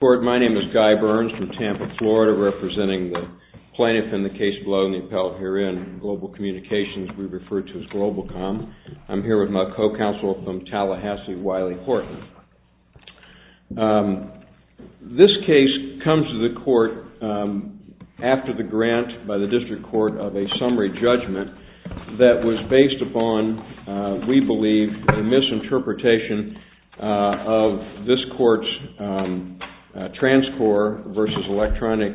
My name is Guy Burns from Tampa, Florida, representing the plaintiff in the case below and the appellate herein, GLOBAL COMMUNICATIONS, we refer to as GLOBALCOM. I'm here with my co-counsel from Tallahassee, Wiley Horton. This case comes to the court after the grant by the District Court of a summary judgment that was based upon, we believe, a misinterpretation of this court's transcorps versus electronic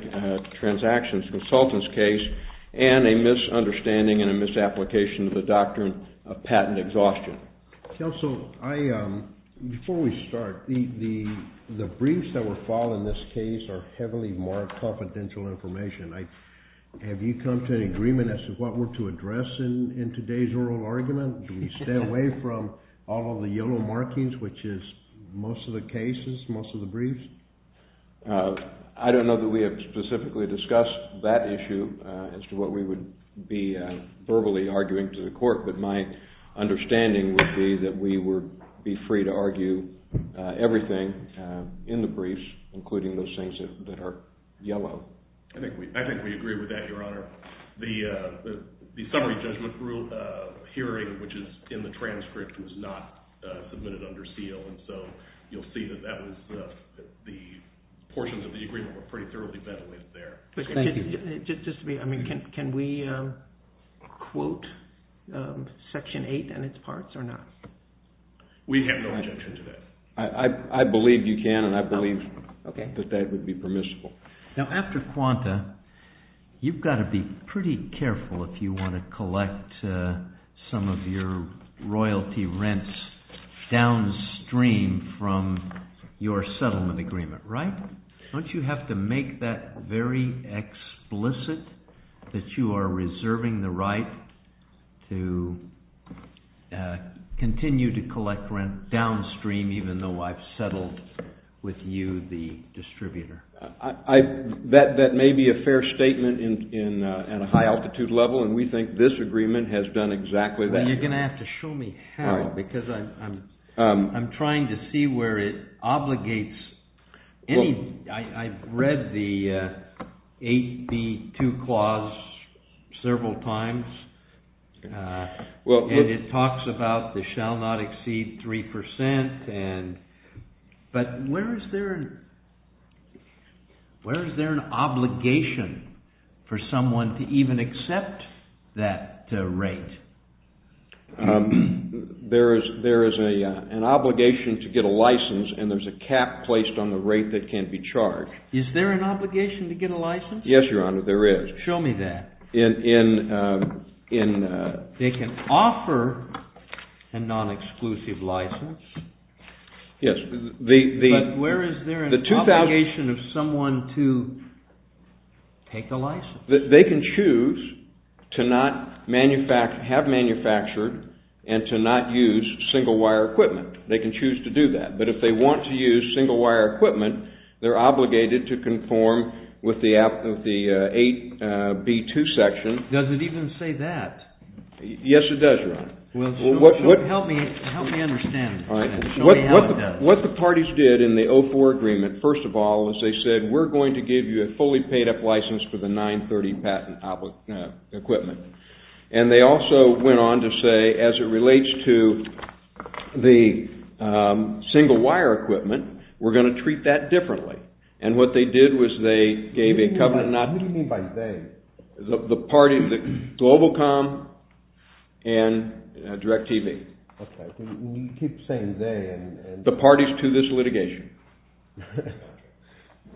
transactions consultants case, and a misunderstanding and a misapplication of the doctrine of patent exhaustion. Counsel, before we start, the briefs that were filed in this case are heavily marked confidential information. Have you come to an agreement as to what we're to address in today's oral argument? Do we stay away from all of the yellow markings, which is most of the cases, most of the briefs? I don't know that we have specifically discussed that issue as to what we would be verbally arguing to the court, but my understanding would be that we would be free to argue everything in the briefs, including those things that are yellow. I think we agree with that, Your Honor. The summary judgment hearing, which is in the transcript, was not submitted under seal, and so you'll see that the portions of the agreement were pretty thoroughly ventilated there. Can we quote Section 8 and its parts or not? We have no objection to that. I believe you can, and I believe that that would be permissible. Now, after quanta, you've got to be pretty careful if you want to collect some of your royalty rents downstream from your settlement agreement, right? Don't you have to make that very explicit that you are reserving the right to continue to collect rent downstream, even though I've settled with you, the distributor? That may be a fair statement in a high-altitude level, and we think this agreement has done exactly that. You're going to have to show me how, because I'm trying to see where it obligates. I've read the 8B2 clause several times, and it talks about the shall not exceed 3%, but where is there an obligation for someone to even accept that rate? There is an obligation to get a license, and there's a cap placed on the rate that can be charged. Is there an obligation to get a license? Yes, Your Honor, there is. Show me that. They can offer a non-exclusive license, but where is there an obligation of someone to take the license? They can choose to not have manufactured and to not use single-wire equipment. They can choose to do that, but if they want to use single-wire equipment, they're obligated to conform with the 8B2 section. Does it even say that? Yes, it does, Your Honor. Help me understand. What the parties did in the 04 agreement, first of all, is they said, we're going to give you a fully paid-up license for the 930 patent equipment. And they also went on to say, as it relates to the single-wire equipment, we're going to treat that differently. And what they did was they gave a covenant. What do you mean by they? The party, Globalcom and DirecTV. Okay, you keep saying they. The parties to this litigation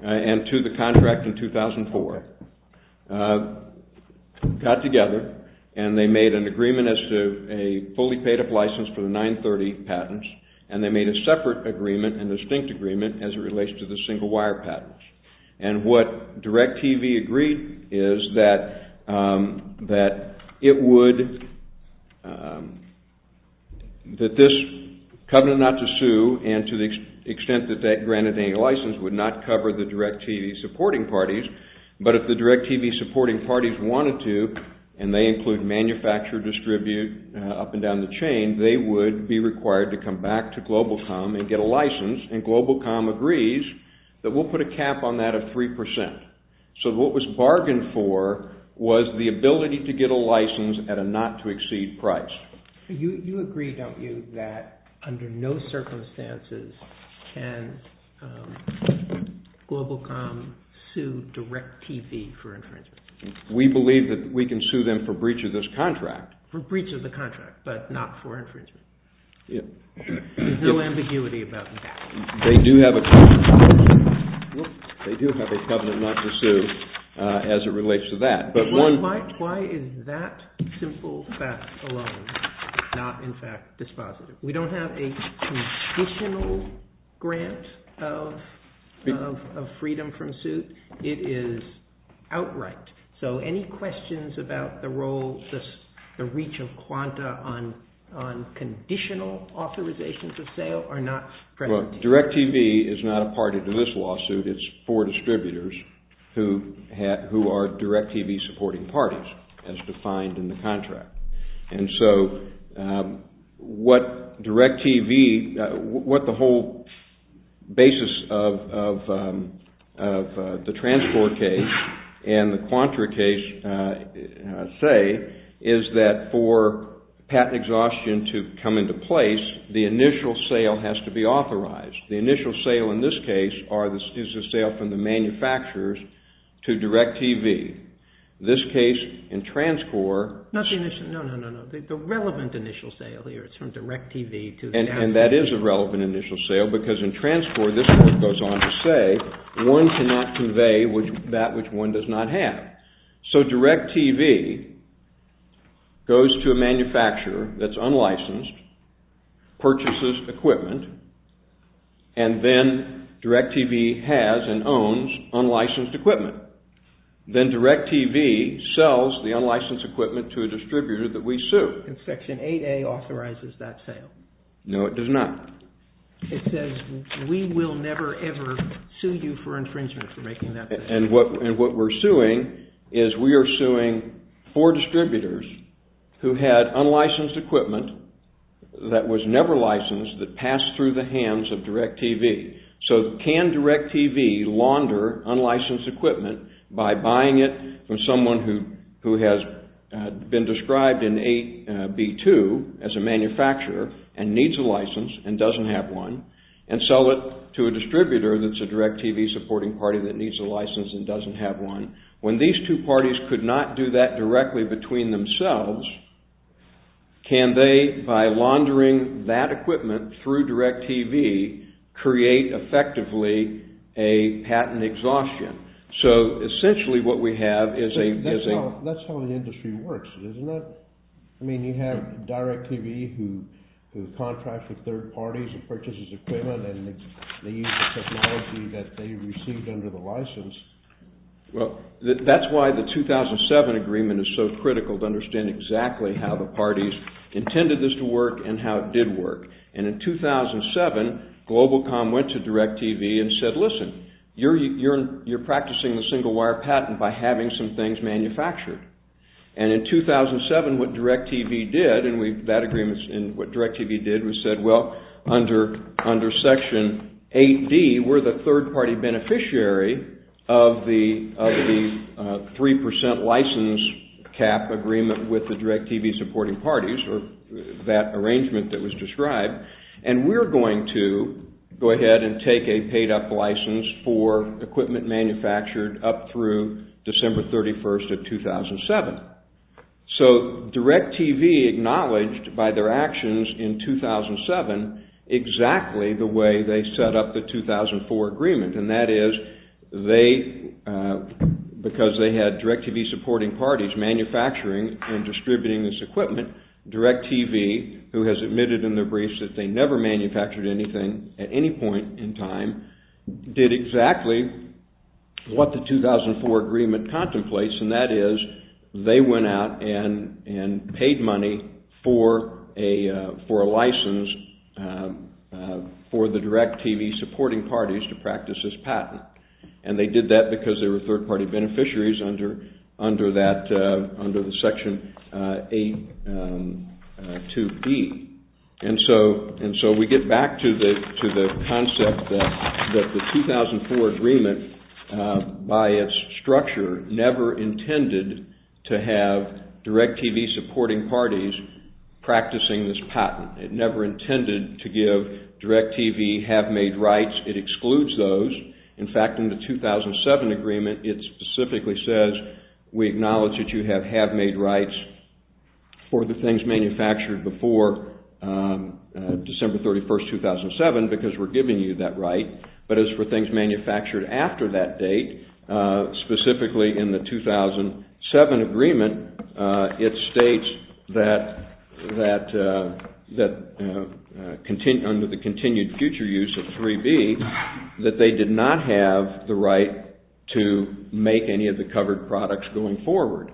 and to the contract in 2004 got together and they made an agreement as to a fully paid-up license for the 930 patents. And they made a separate agreement, a distinct agreement, as it relates to the single-wire patents. And what DirecTV agreed is that it would, that this covenant not to sue and to the extent that that granted any license would not cover the DirecTV supporting parties. But if the DirecTV supporting parties wanted to, and they include manufacturer, distribute, up and down the chain, they would be required to come back to Globalcom and get a license. And Globalcom agrees that we'll put a cap on that of 3%. So what was bargained for was the ability to get a license at a not-to-exceed price. You agree, don't you, that under no circumstances can Globalcom sue DirecTV for infringement? We believe that we can sue them for breach of this contract. For breach of the contract, but not for infringement. There's no ambiguity about that. They do have a covenant not to sue as it relates to that. But why is that simple fact alone not, in fact, dispositive? We don't have a conditional grant of freedom from suit. It is outright. So any questions about the role, the reach of QANTA on conditional authorizations of sale are not present? Well, DirecTV is not a party to this lawsuit. It's four distributors who are DirecTV supporting parties as defined in the contract. And so what DirecTV, what the whole basis of the Transcor case and the QANTRA case say is that for patent exhaustion to come into place, the initial sale has to be authorized. The initial sale in this case is the sale from the manufacturers to DirecTV. This case in Transcor... Not the initial, no, no, no, no. The relevant initial sale here is from DirecTV to... And that is a relevant initial sale because in Transcor this court goes on to say one cannot convey that which one does not have. So DirecTV goes to a manufacturer that's unlicensed, purchases equipment, and then DirecTV has and owns unlicensed equipment. Then DirecTV sells the unlicensed equipment to a distributor that we sue. And Section 8A authorizes that sale. No, it does not. It says we will never, ever sue you for infringement for making that decision. And what we're suing is we are suing four distributors who had unlicensed equipment that was never licensed that passed through the hands of DirecTV. So can DirecTV launder unlicensed equipment by buying it from someone who has been described in 8B2 as a manufacturer and needs a license and doesn't have one and sell it to a distributor that's a DirecTV supporting party that needs a license and doesn't have one? When these two parties could not do that directly between themselves, can they, by laundering that equipment through DirecTV, create effectively a patent exhaustion? So essentially what we have is a... That's how the industry works, isn't it? I mean, you have DirecTV who contracts with third parties and purchases equipment and they use the technology that they received under the license. Well, that's why the 2007 agreement is so critical to understand exactly how the parties intended this to work and how it did work. And in 2007, GlobalCom went to DirecTV and said, listen, you're practicing the single wire patent by having some things manufactured. And in 2007, what DirecTV did and that agreement and what DirecTV did was said, well, under Section 8D, we're the third party beneficiary of the 3% license cap agreement with the DirecTV supporting parties or that arrangement that was described. And we're going to go ahead and take a paid-up license for equipment manufactured up through December 31st of 2007. So DirecTV acknowledged by their actions in 2007 exactly the way they set up the 2004 agreement. And that is they, because they had DirecTV supporting parties manufacturing and distributing this equipment, DirecTV, who has admitted in their briefs that they never manufactured anything at any point in time, did exactly what the 2004 agreement contemplates. And that is they went out and paid money for a license for the DirecTV supporting parties to practice this patent. And they did that because they were third party beneficiaries under the Section 82B. And so we get back to the concept that the 2004 agreement, by its structure, never intended to have DirecTV supporting parties practicing this patent. It never intended to give DirecTV have-made rights. It excludes those. In fact, in the 2007 agreement, it specifically says, we acknowledge that you have have-made rights for the things manufactured before December 31st, 2007, because we're giving you that right. But as for things manufactured after that date, specifically in the 2007 agreement, it states that under the continued future use of 3B, that they did not have the right to make any of the covered products going forward.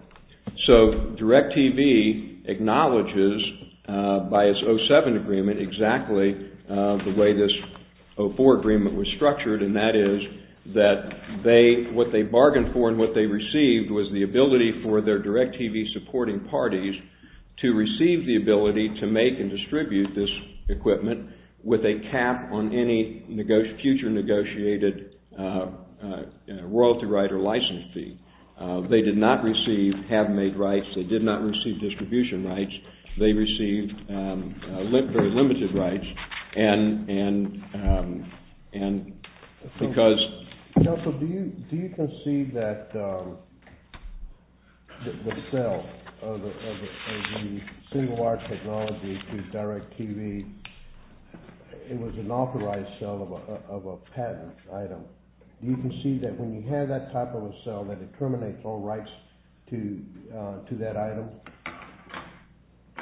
So DirecTV acknowledges by its 2007 agreement exactly the way this 2004 agreement was structured, and that is that what they bargained for and what they received was the ability for their DirecTV supporting parties to receive the ability to make and distribute this equipment with a cap on any future negotiated royalty right or license fee. They did not receive have-made rights. They did not receive distribution rights. They received very limited rights. Counsel, do you concede that the sale of the single-wire technology to DirecTV, it was an authorized sale of a patent item. Do you concede that when you have that type of a sale that it terminates all rights to that item?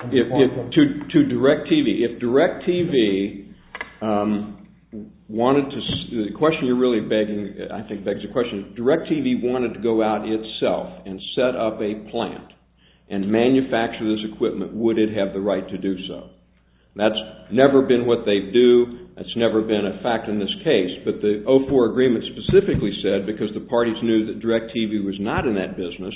To DirecTV. If DirecTV wanted to-the question you're really begging, I think, begs the question, if DirecTV wanted to go out itself and set up a plant and manufacture this equipment, would it have the right to do so? That's never been what they do. That's never been a fact in this case. But the 2004 agreement specifically said, because the parties knew that DirecTV was not in that business,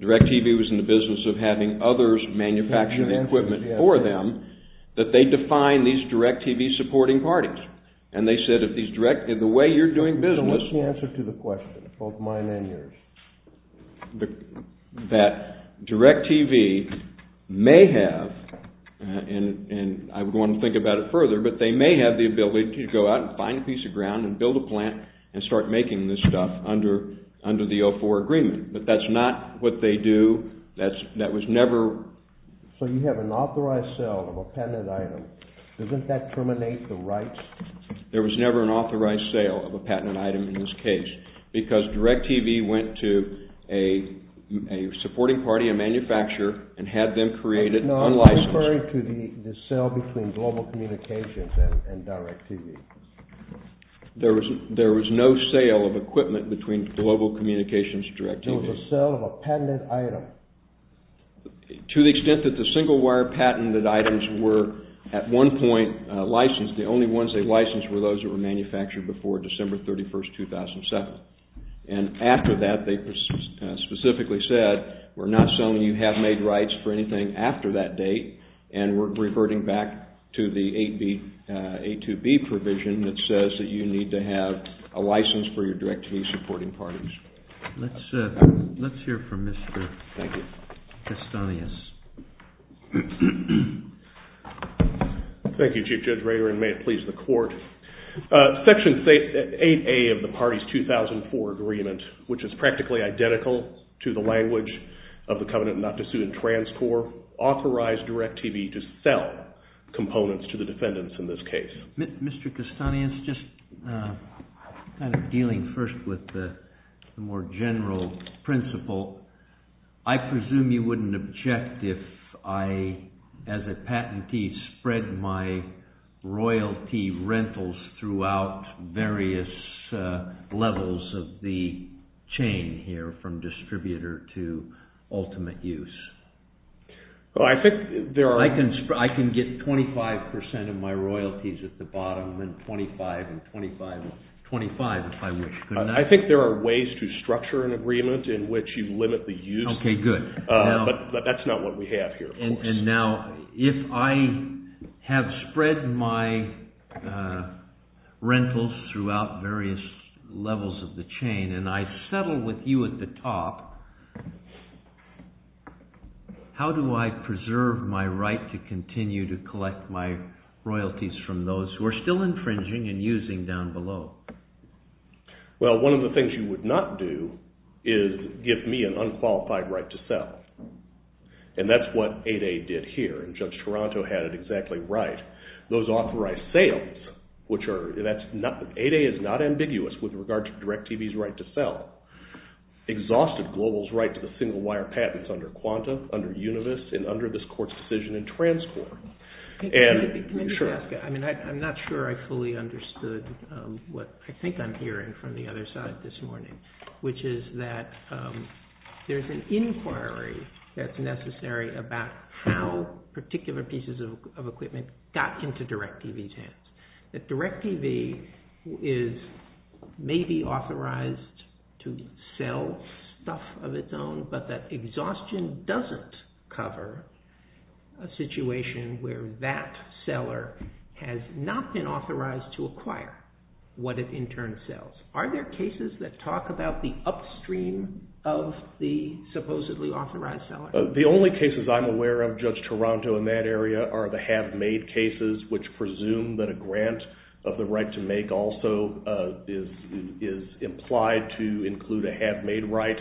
DirecTV was in the business of having others manufacture the equipment for them, that they define these DirecTV supporting parties. And they said if these DirecTV-the way you're doing business- Give me the answer to the question, both mine and yours. That DirecTV may have, and I would want to think about it further, but they may have the ability to go out and find a piece of ground and build a plant and start making this stuff under the 2004 agreement. But that's not what they do. That was never- So you have an authorized sale of a patent item. Doesn't that terminate the rights? There was never an authorized sale of a patent item in this case, because DirecTV went to a supporting party, a manufacturer, and had them create it unlicensed. No, I'm referring to the sale between Global Communications and DirecTV. There was no sale of equipment between Global Communications and DirecTV. There was a sale of a patented item. To the extent that the single-wire patented items were at one point licensed, the only ones they licensed were those that were manufactured before December 31, 2007. And after that, they specifically said, we're not selling you have-made rights for anything after that date. And we're reverting back to the 82B provision that says that you need to have a license for your DirecTV supporting parties. Let's hear from Mr. Castanhas. Thank you, Chief Judge Rader, and may it please the Court. Section 8A of the party's 2004 agreement, which is practically identical to the language of the covenant not to sue in trans core, authorized DirecTV to sell components to the defendants in this case. Mr. Castanhas, just kind of dealing first with the more general principle. I presume you wouldn't object if I, as a patentee, spread my royalty rentals throughout various levels of the chain here from distributor to ultimate use. I can get 25% of my royalties at the bottom and then 25 and 25 and 25 if I wish. I think there are ways to structure an agreement in which you limit the use. Okay, good. But that's not what we have here. And now if I have spread my rentals throughout various levels of the chain and I settle with you at the top, how do I preserve my right to continue to collect my royalties from those who are still infringing and using down below? Well, one of the things you would not do is give me an unqualified right to sell. And that's what 8A did here, and Judge Toronto had it exactly right. Those authorized sales, which are, 8A is not ambiguous with regard to DirecTV's right to sell, exhausted Global's right to the single wire patents under Quanta, under Univis, and under this court's decision in trans core. Can I just ask? I'm not sure I fully understood what I think I'm hearing from the other side this morning, which is that there's an inquiry that's necessary about how particular pieces of equipment got into DirecTV's hands. That DirecTV is maybe authorized to sell stuff of its own, but that exhaustion doesn't cover a situation where that seller has not been authorized to acquire what it in turn sells. Are there cases that talk about the upstream of the supposedly authorized seller? The only cases I'm aware of, Judge Toronto, in that area are the have-made cases, which presume that a grant of the right to make also is implied to include a have-made right,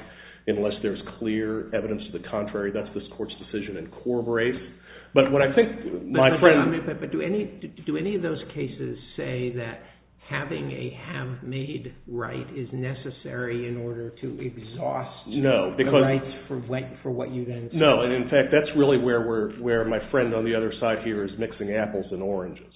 unless there's clear evidence to the contrary. That's this court's decision in core brace. But do any of those cases say that having a have-made right is necessary in order to exhaust the rights for what you then sell? No, and in fact, that's really where my friend on the other side here is mixing apples and oranges.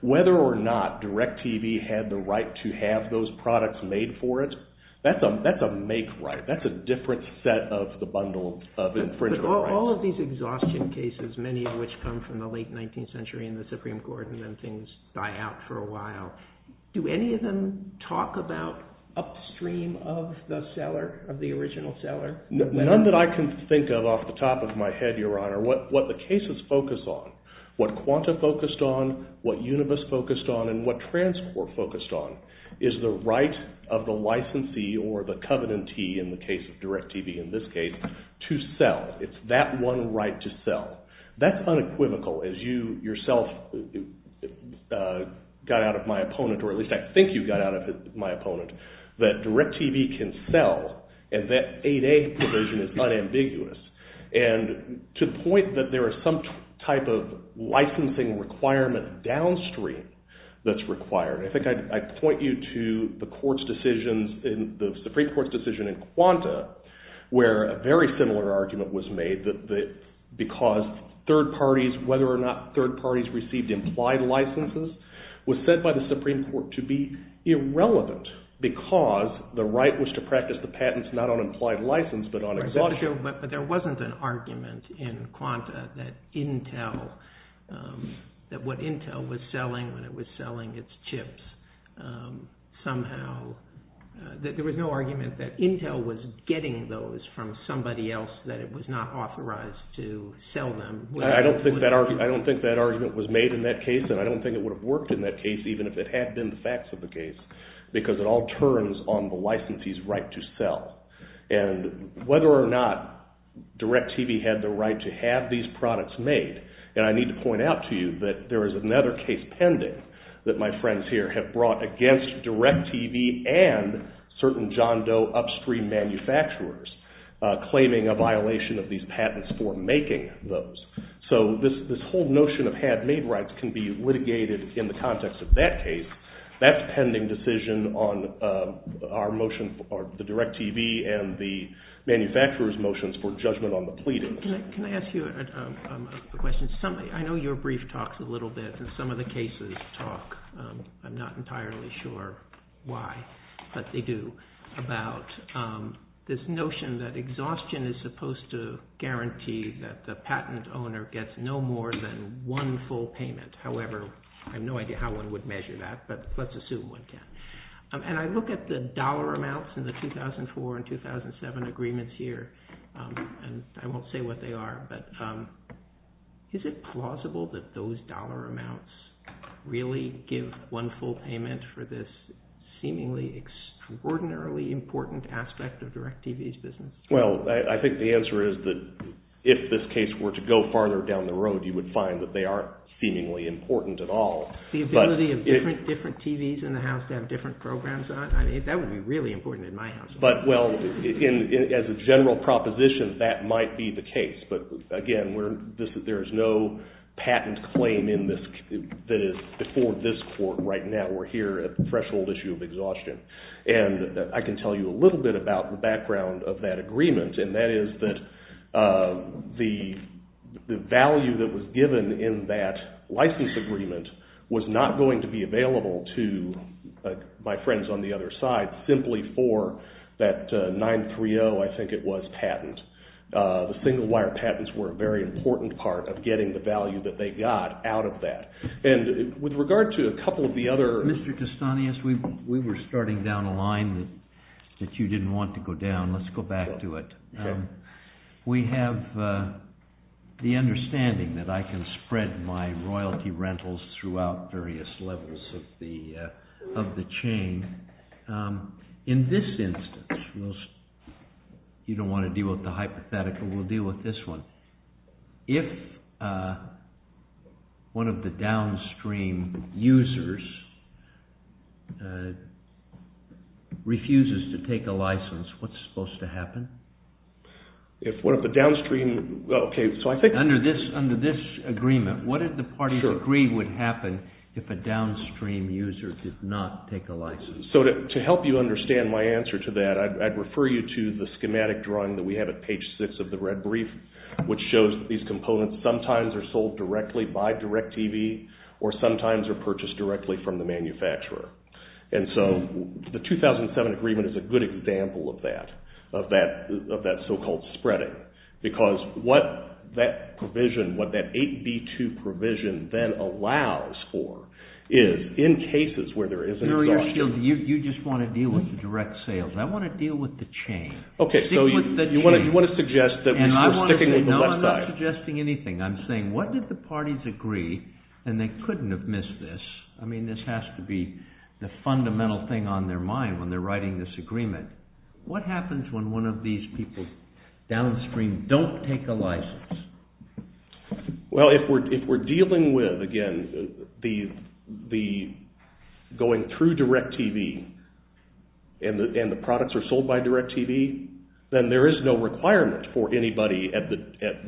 Whether or not DirecTV had the right to have those products made for it, that's a make right. That's a different set of the bundle of infringement rights. All of these exhaustion cases, many of which come from the late 19th century in the Supreme Court, and then things die out for a while. Do any of them talk about upstream of the seller, of the original seller? None that I can think of off the top of my head, Your Honor. What the cases focus on, what Quanta focused on, what Unibus focused on, and what TransCorp focused on, is the right of the licensee or the covenantee, in the case of DirecTV in this case, to sell. It's that one right to sell. That's unequivocal, as you yourself got out of my opponent, or at least I think you got out of my opponent, that DirecTV can sell, and that 8A provision is unambiguous. And to the point that there is some type of licensing requirement downstream that's required. I think I'd point you to the Supreme Court's decision in Quanta where a very similar argument was made that because third parties, whether or not third parties received implied licenses, was set by the Supreme Court to be irrelevant because the right was to practice the patents not on implied license but on exhaustion. I'm not sure, but there wasn't an argument in Quanta that what Intel was selling when it was selling its chips somehow, that there was no argument that Intel was getting those from somebody else, that it was not authorized to sell them. I don't think that argument was made in that case, and I don't think it would have worked in that case even if it had been the facts of the case, because it all turns on the licensee's right to sell. And whether or not DirecTV had the right to have these products made, and I need to point out to you that there is another case pending that my friends here have brought against DirecTV and certain John Doe upstream manufacturers claiming a violation of these patents for making those. So this whole notion of had-made rights can be litigated in the context of that case. That's a pending decision on our motion for the DirecTV and the manufacturers' motions for judgment on the pleadings. Can I ask you a question? I know your brief talks a little bit, and some of the cases talk, I'm not entirely sure why, but they do, about this notion that exhaustion is supposed to guarantee that the patent owner gets no more than one full payment. However, I have no idea how one would measure that, but let's assume one can. And I look at the dollar amounts in the 2004 and 2007 agreements here, and I won't say what they are, but is it plausible that those dollar amounts really give one full payment for this seemingly extraordinarily important aspect of DirecTV's business? Well, I think the answer is that if this case were to go farther down the road, you would find that they aren't seemingly important at all. The ability of different TVs in the house to have different programs on? I mean, that would be really important in my house. But, well, as a general proposition, that might be the case. But, again, there is no patent claim that is before this Court right now. We're here at the threshold issue of exhaustion. And I can tell you a little bit about the background of that agreement, and that is that the value that was given in that license agreement was not going to be available to my friends on the other side simply for that 930, I think it was, patent. The single wire patents were a very important part of getting the value that they got out of that. And with regard to a couple of the other... I'm going down a line that you didn't want to go down. Let's go back to it. We have the understanding that I can spread my royalty rentals throughout various levels of the chain. In this instance, you don't want to deal with the hypothetical. We'll deal with this one. If one of the downstream users refuses to take a license, what's supposed to happen? If one of the downstream... Under this agreement, what did the parties agree would happen if a downstream user did not take a license? So to help you understand my answer to that, I'd refer you to the schematic drawing that we have at page 6 of the red brief, which shows that these components sometimes are sold directly by DirecTV or sometimes are purchased directly from the manufacturer. And so the 2007 agreement is a good example of that, of that so-called spreading, because what that provision, what that 8B2 provision then allows for is in cases where there is a... You just want to deal with the direct sales. I want to deal with the chain. Okay, so you want to suggest that we're sticking with the West Side. No, I'm not suggesting anything. I'm saying what did the parties agree, and they couldn't have missed this. I mean, this has to be the fundamental thing on their mind when they're writing this agreement. What happens when one of these people downstream don't take a license? Well, if we're dealing with, again, the going through DirecTV and the products are sold by DirecTV, then there is no requirement for anybody at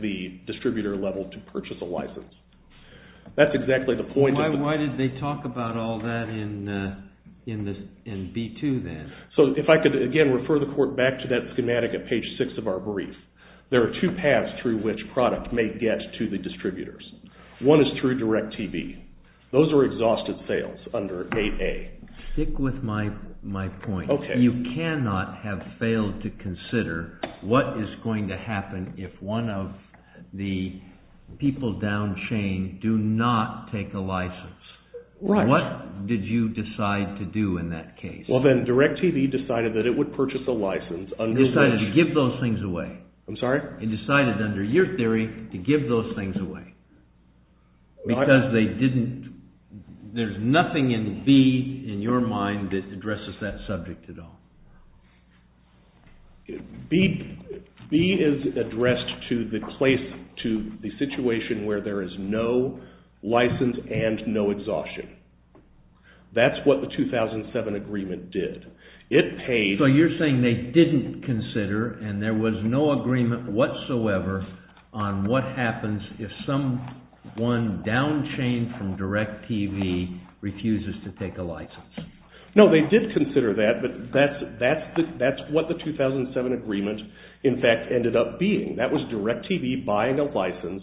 the distributor level to purchase a license. That's exactly the point of the... Why did they talk about all that in B2 then? So if I could, again, refer the court back to that schematic at page 6 of our brief. There are two paths through which product may get to the distributors. One is through DirecTV. Those are exhausted sales under 8A. Stick with my point. Okay. You cannot have failed to consider what is going to happen if one of the people down chain do not take a license. Right. What did you decide to do in that case? Well, then, DirecTV decided that it would purchase a license under which... I'm sorry? It decided under your theory to give those things away because they didn't... There's nothing in B in your mind that addresses that subject at all. B is addressed to the situation where there is no license and no exhaustion. That's what the 2007 agreement did. It paid... So you're saying they didn't consider and there was no agreement whatsoever on what happens if someone down chain from DirecTV refuses to take a license. No, they did consider that, but that's what the 2007 agreement, in fact, ended up being. That was DirecTV buying a license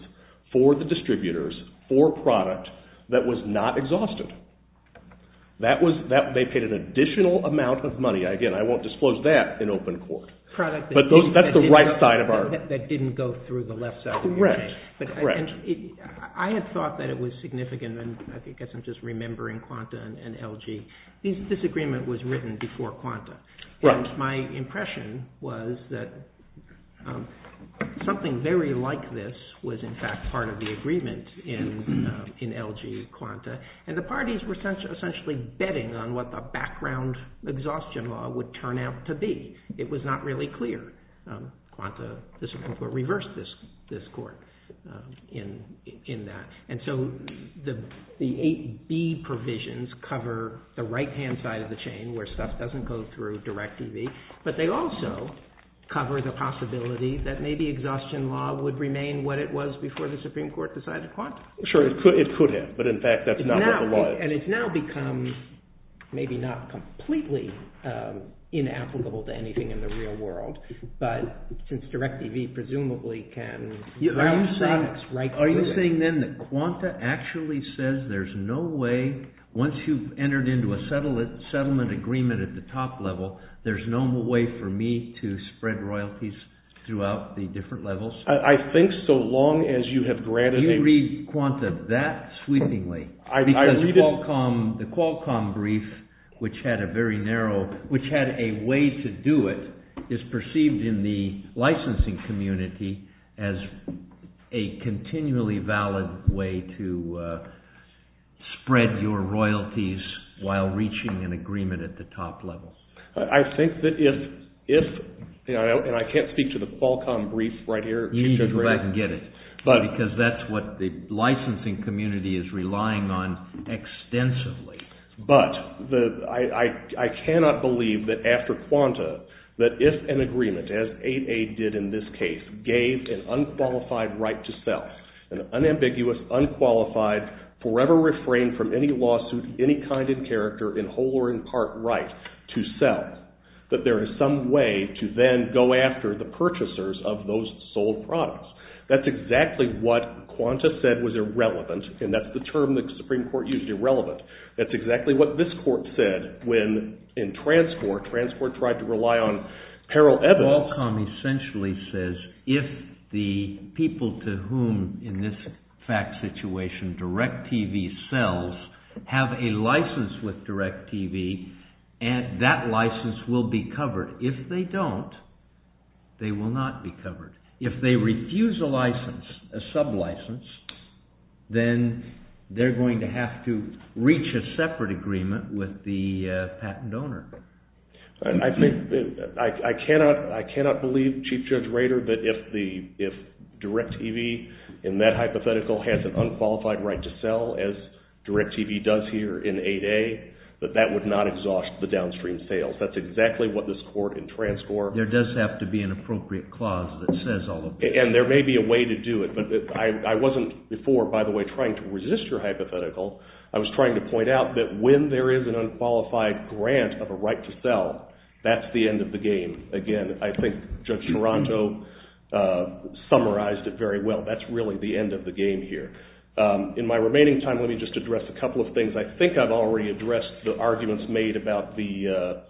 for the distributors for a product that was not exhausted. They paid an additional amount of money. Again, I won't disclose that in open court, but that's the right side of our... That didn't go through the left side of your case. Correct. I had thought that it was significant, and I guess I'm just remembering Quanta and LG. This agreement was written before Quanta. My impression was that something very like this was, in fact, part of the agreement in LG, Quanta. And the parties were essentially betting on what the background exhaustion law would turn out to be. It was not really clear. Quanta, the Supreme Court reversed this court in that. And so the 8B provisions cover the right-hand side of the chain where stuff doesn't go through DirecTV, but they also cover the possibility that maybe exhaustion law would remain what it was before the Supreme Court decided Quanta. Sure, it could have, but in fact that's not what it was. And it's now become maybe not completely inapplicable to anything in the real world, but since DirecTV presumably can... Are you saying then that Quanta actually says there's no way, once you've entered into a settlement agreement at the top level, there's no more way for me to spread royalties throughout the different levels? I think so long as you have granted a... Do you read Quanta that sweepingly? I read it... Because the Qualcomm brief, which had a very narrow, which had a way to do it, is perceived in the licensing community as a continually valid way to spread your royalties while reaching an agreement at the top level. I think that if, and I can't speak to the Qualcomm brief right here... You need to go back and get it, because that's what the licensing community is relying on extensively. But I cannot believe that after Quanta, that if an agreement, as 8A did in this case, gave an unqualified right to sell, an unambiguous, unqualified, forever refrained from any lawsuit, any kind and character, in whole or in part right to sell, that there is some way to then go after the purchasers of those sold products. That's exactly what Quanta said was irrelevant, and that's the term the Supreme Court used, irrelevant. That's exactly what this court said when, in Transport, Transport tried to rely on peril evidence... Qualcomm essentially says, if the people to whom, in this fact situation, DirecTV sells have a license with DirecTV, that license will be covered. If they don't, they will not be covered. If they refuse a license, a sub-license, then they're going to have to reach a separate agreement with the patent owner. I cannot believe, Chief Judge Rader, that if DirecTV, in that hypothetical, has an unqualified right to sell, as DirecTV does here in 8A, that that would not exhaust the downstream sales. That's exactly what this court in Transport... And there may be a way to do it, but I wasn't before, by the way, trying to resist your hypothetical. I was trying to point out that when there is an unqualified grant of a right to sell, that's the end of the game. Again, I think Judge Taranto summarized it very well. That's really the end of the game here. In my remaining time, let me just address a couple of things. I think I've already addressed the arguments made about the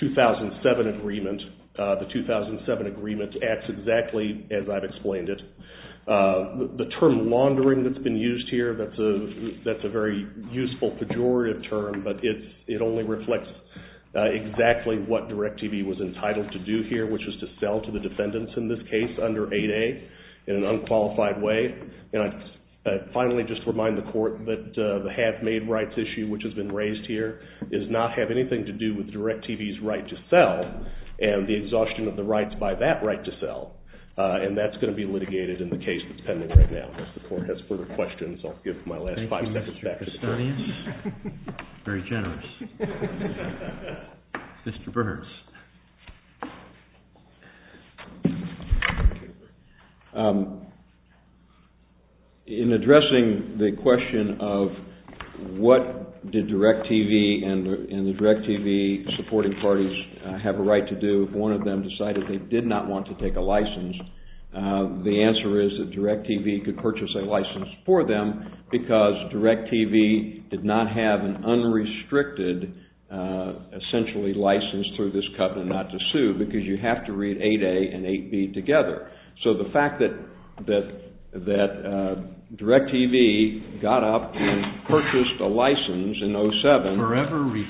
2007 agreement. The 2007 agreement acts exactly as I've explained it. The term laundering that's been used here, that's a very useful pejorative term, but it only reflects exactly what DirecTV was entitled to do here, which was to sell to the defendants in this case under 8A in an unqualified way. And I finally just remind the court that the half-made rights issue, which has been raised here, does not have anything to do with DirecTV's right to sell and the exhaustion of the rights by that right to sell. And that's going to be litigated in the case that's pending right now. If the court has further questions, I'll give my last five seconds back to the court. Thank you, Mr. Gastonius. Very generous. Mr. Burns. In addressing the question of what did DirecTV and the DirecTV supporting parties have a right to do if one of them decided they did not want to take a license, the answer is that DirecTV could purchase a license for them because DirecTV did not have an unrestricted essentially license through this covenant not to sue because you have to read 8A and 8B together. So the fact that DirecTV got up and purchased a license in 07 and you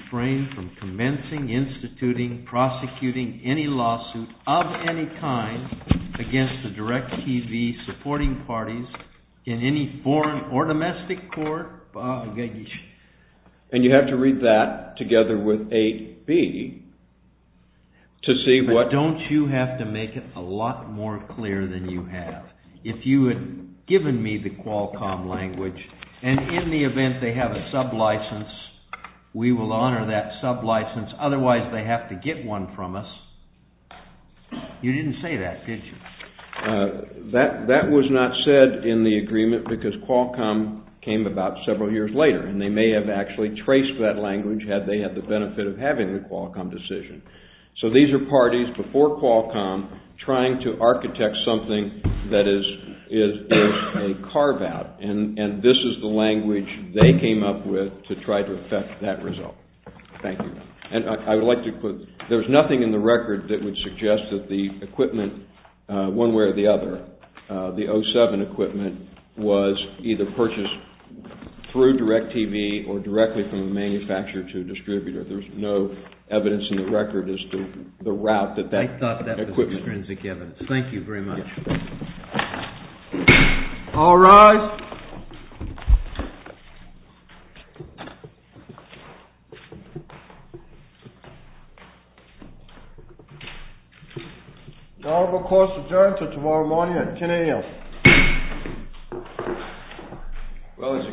have to read that together with 8B to see what If you had given me the Qualcomm language, and in the event they have a sublicense, we will honor that sublicense, otherwise they have to get one from us. You didn't say that, did you? That was not said in the agreement because Qualcomm came about several years later, and they may have actually traced that language had they had the benefit of having the Qualcomm decision. So these are parties before Qualcomm trying to architect something that is a carve-out, and this is the language they came up with to try to effect that result. Thank you. And I would like to put, there is nothing in the record that would suggest that the equipment, one way or the other, the 07 equipment was either purchased through DirecTV or directly from a manufacturer to a distributor. There is no evidence in the record as to the route that that equipment... I thought that was extrinsic evidence. Thank you very much. All rise. The Honorable Clause's adjournment until tomorrow morning at 10 a.m.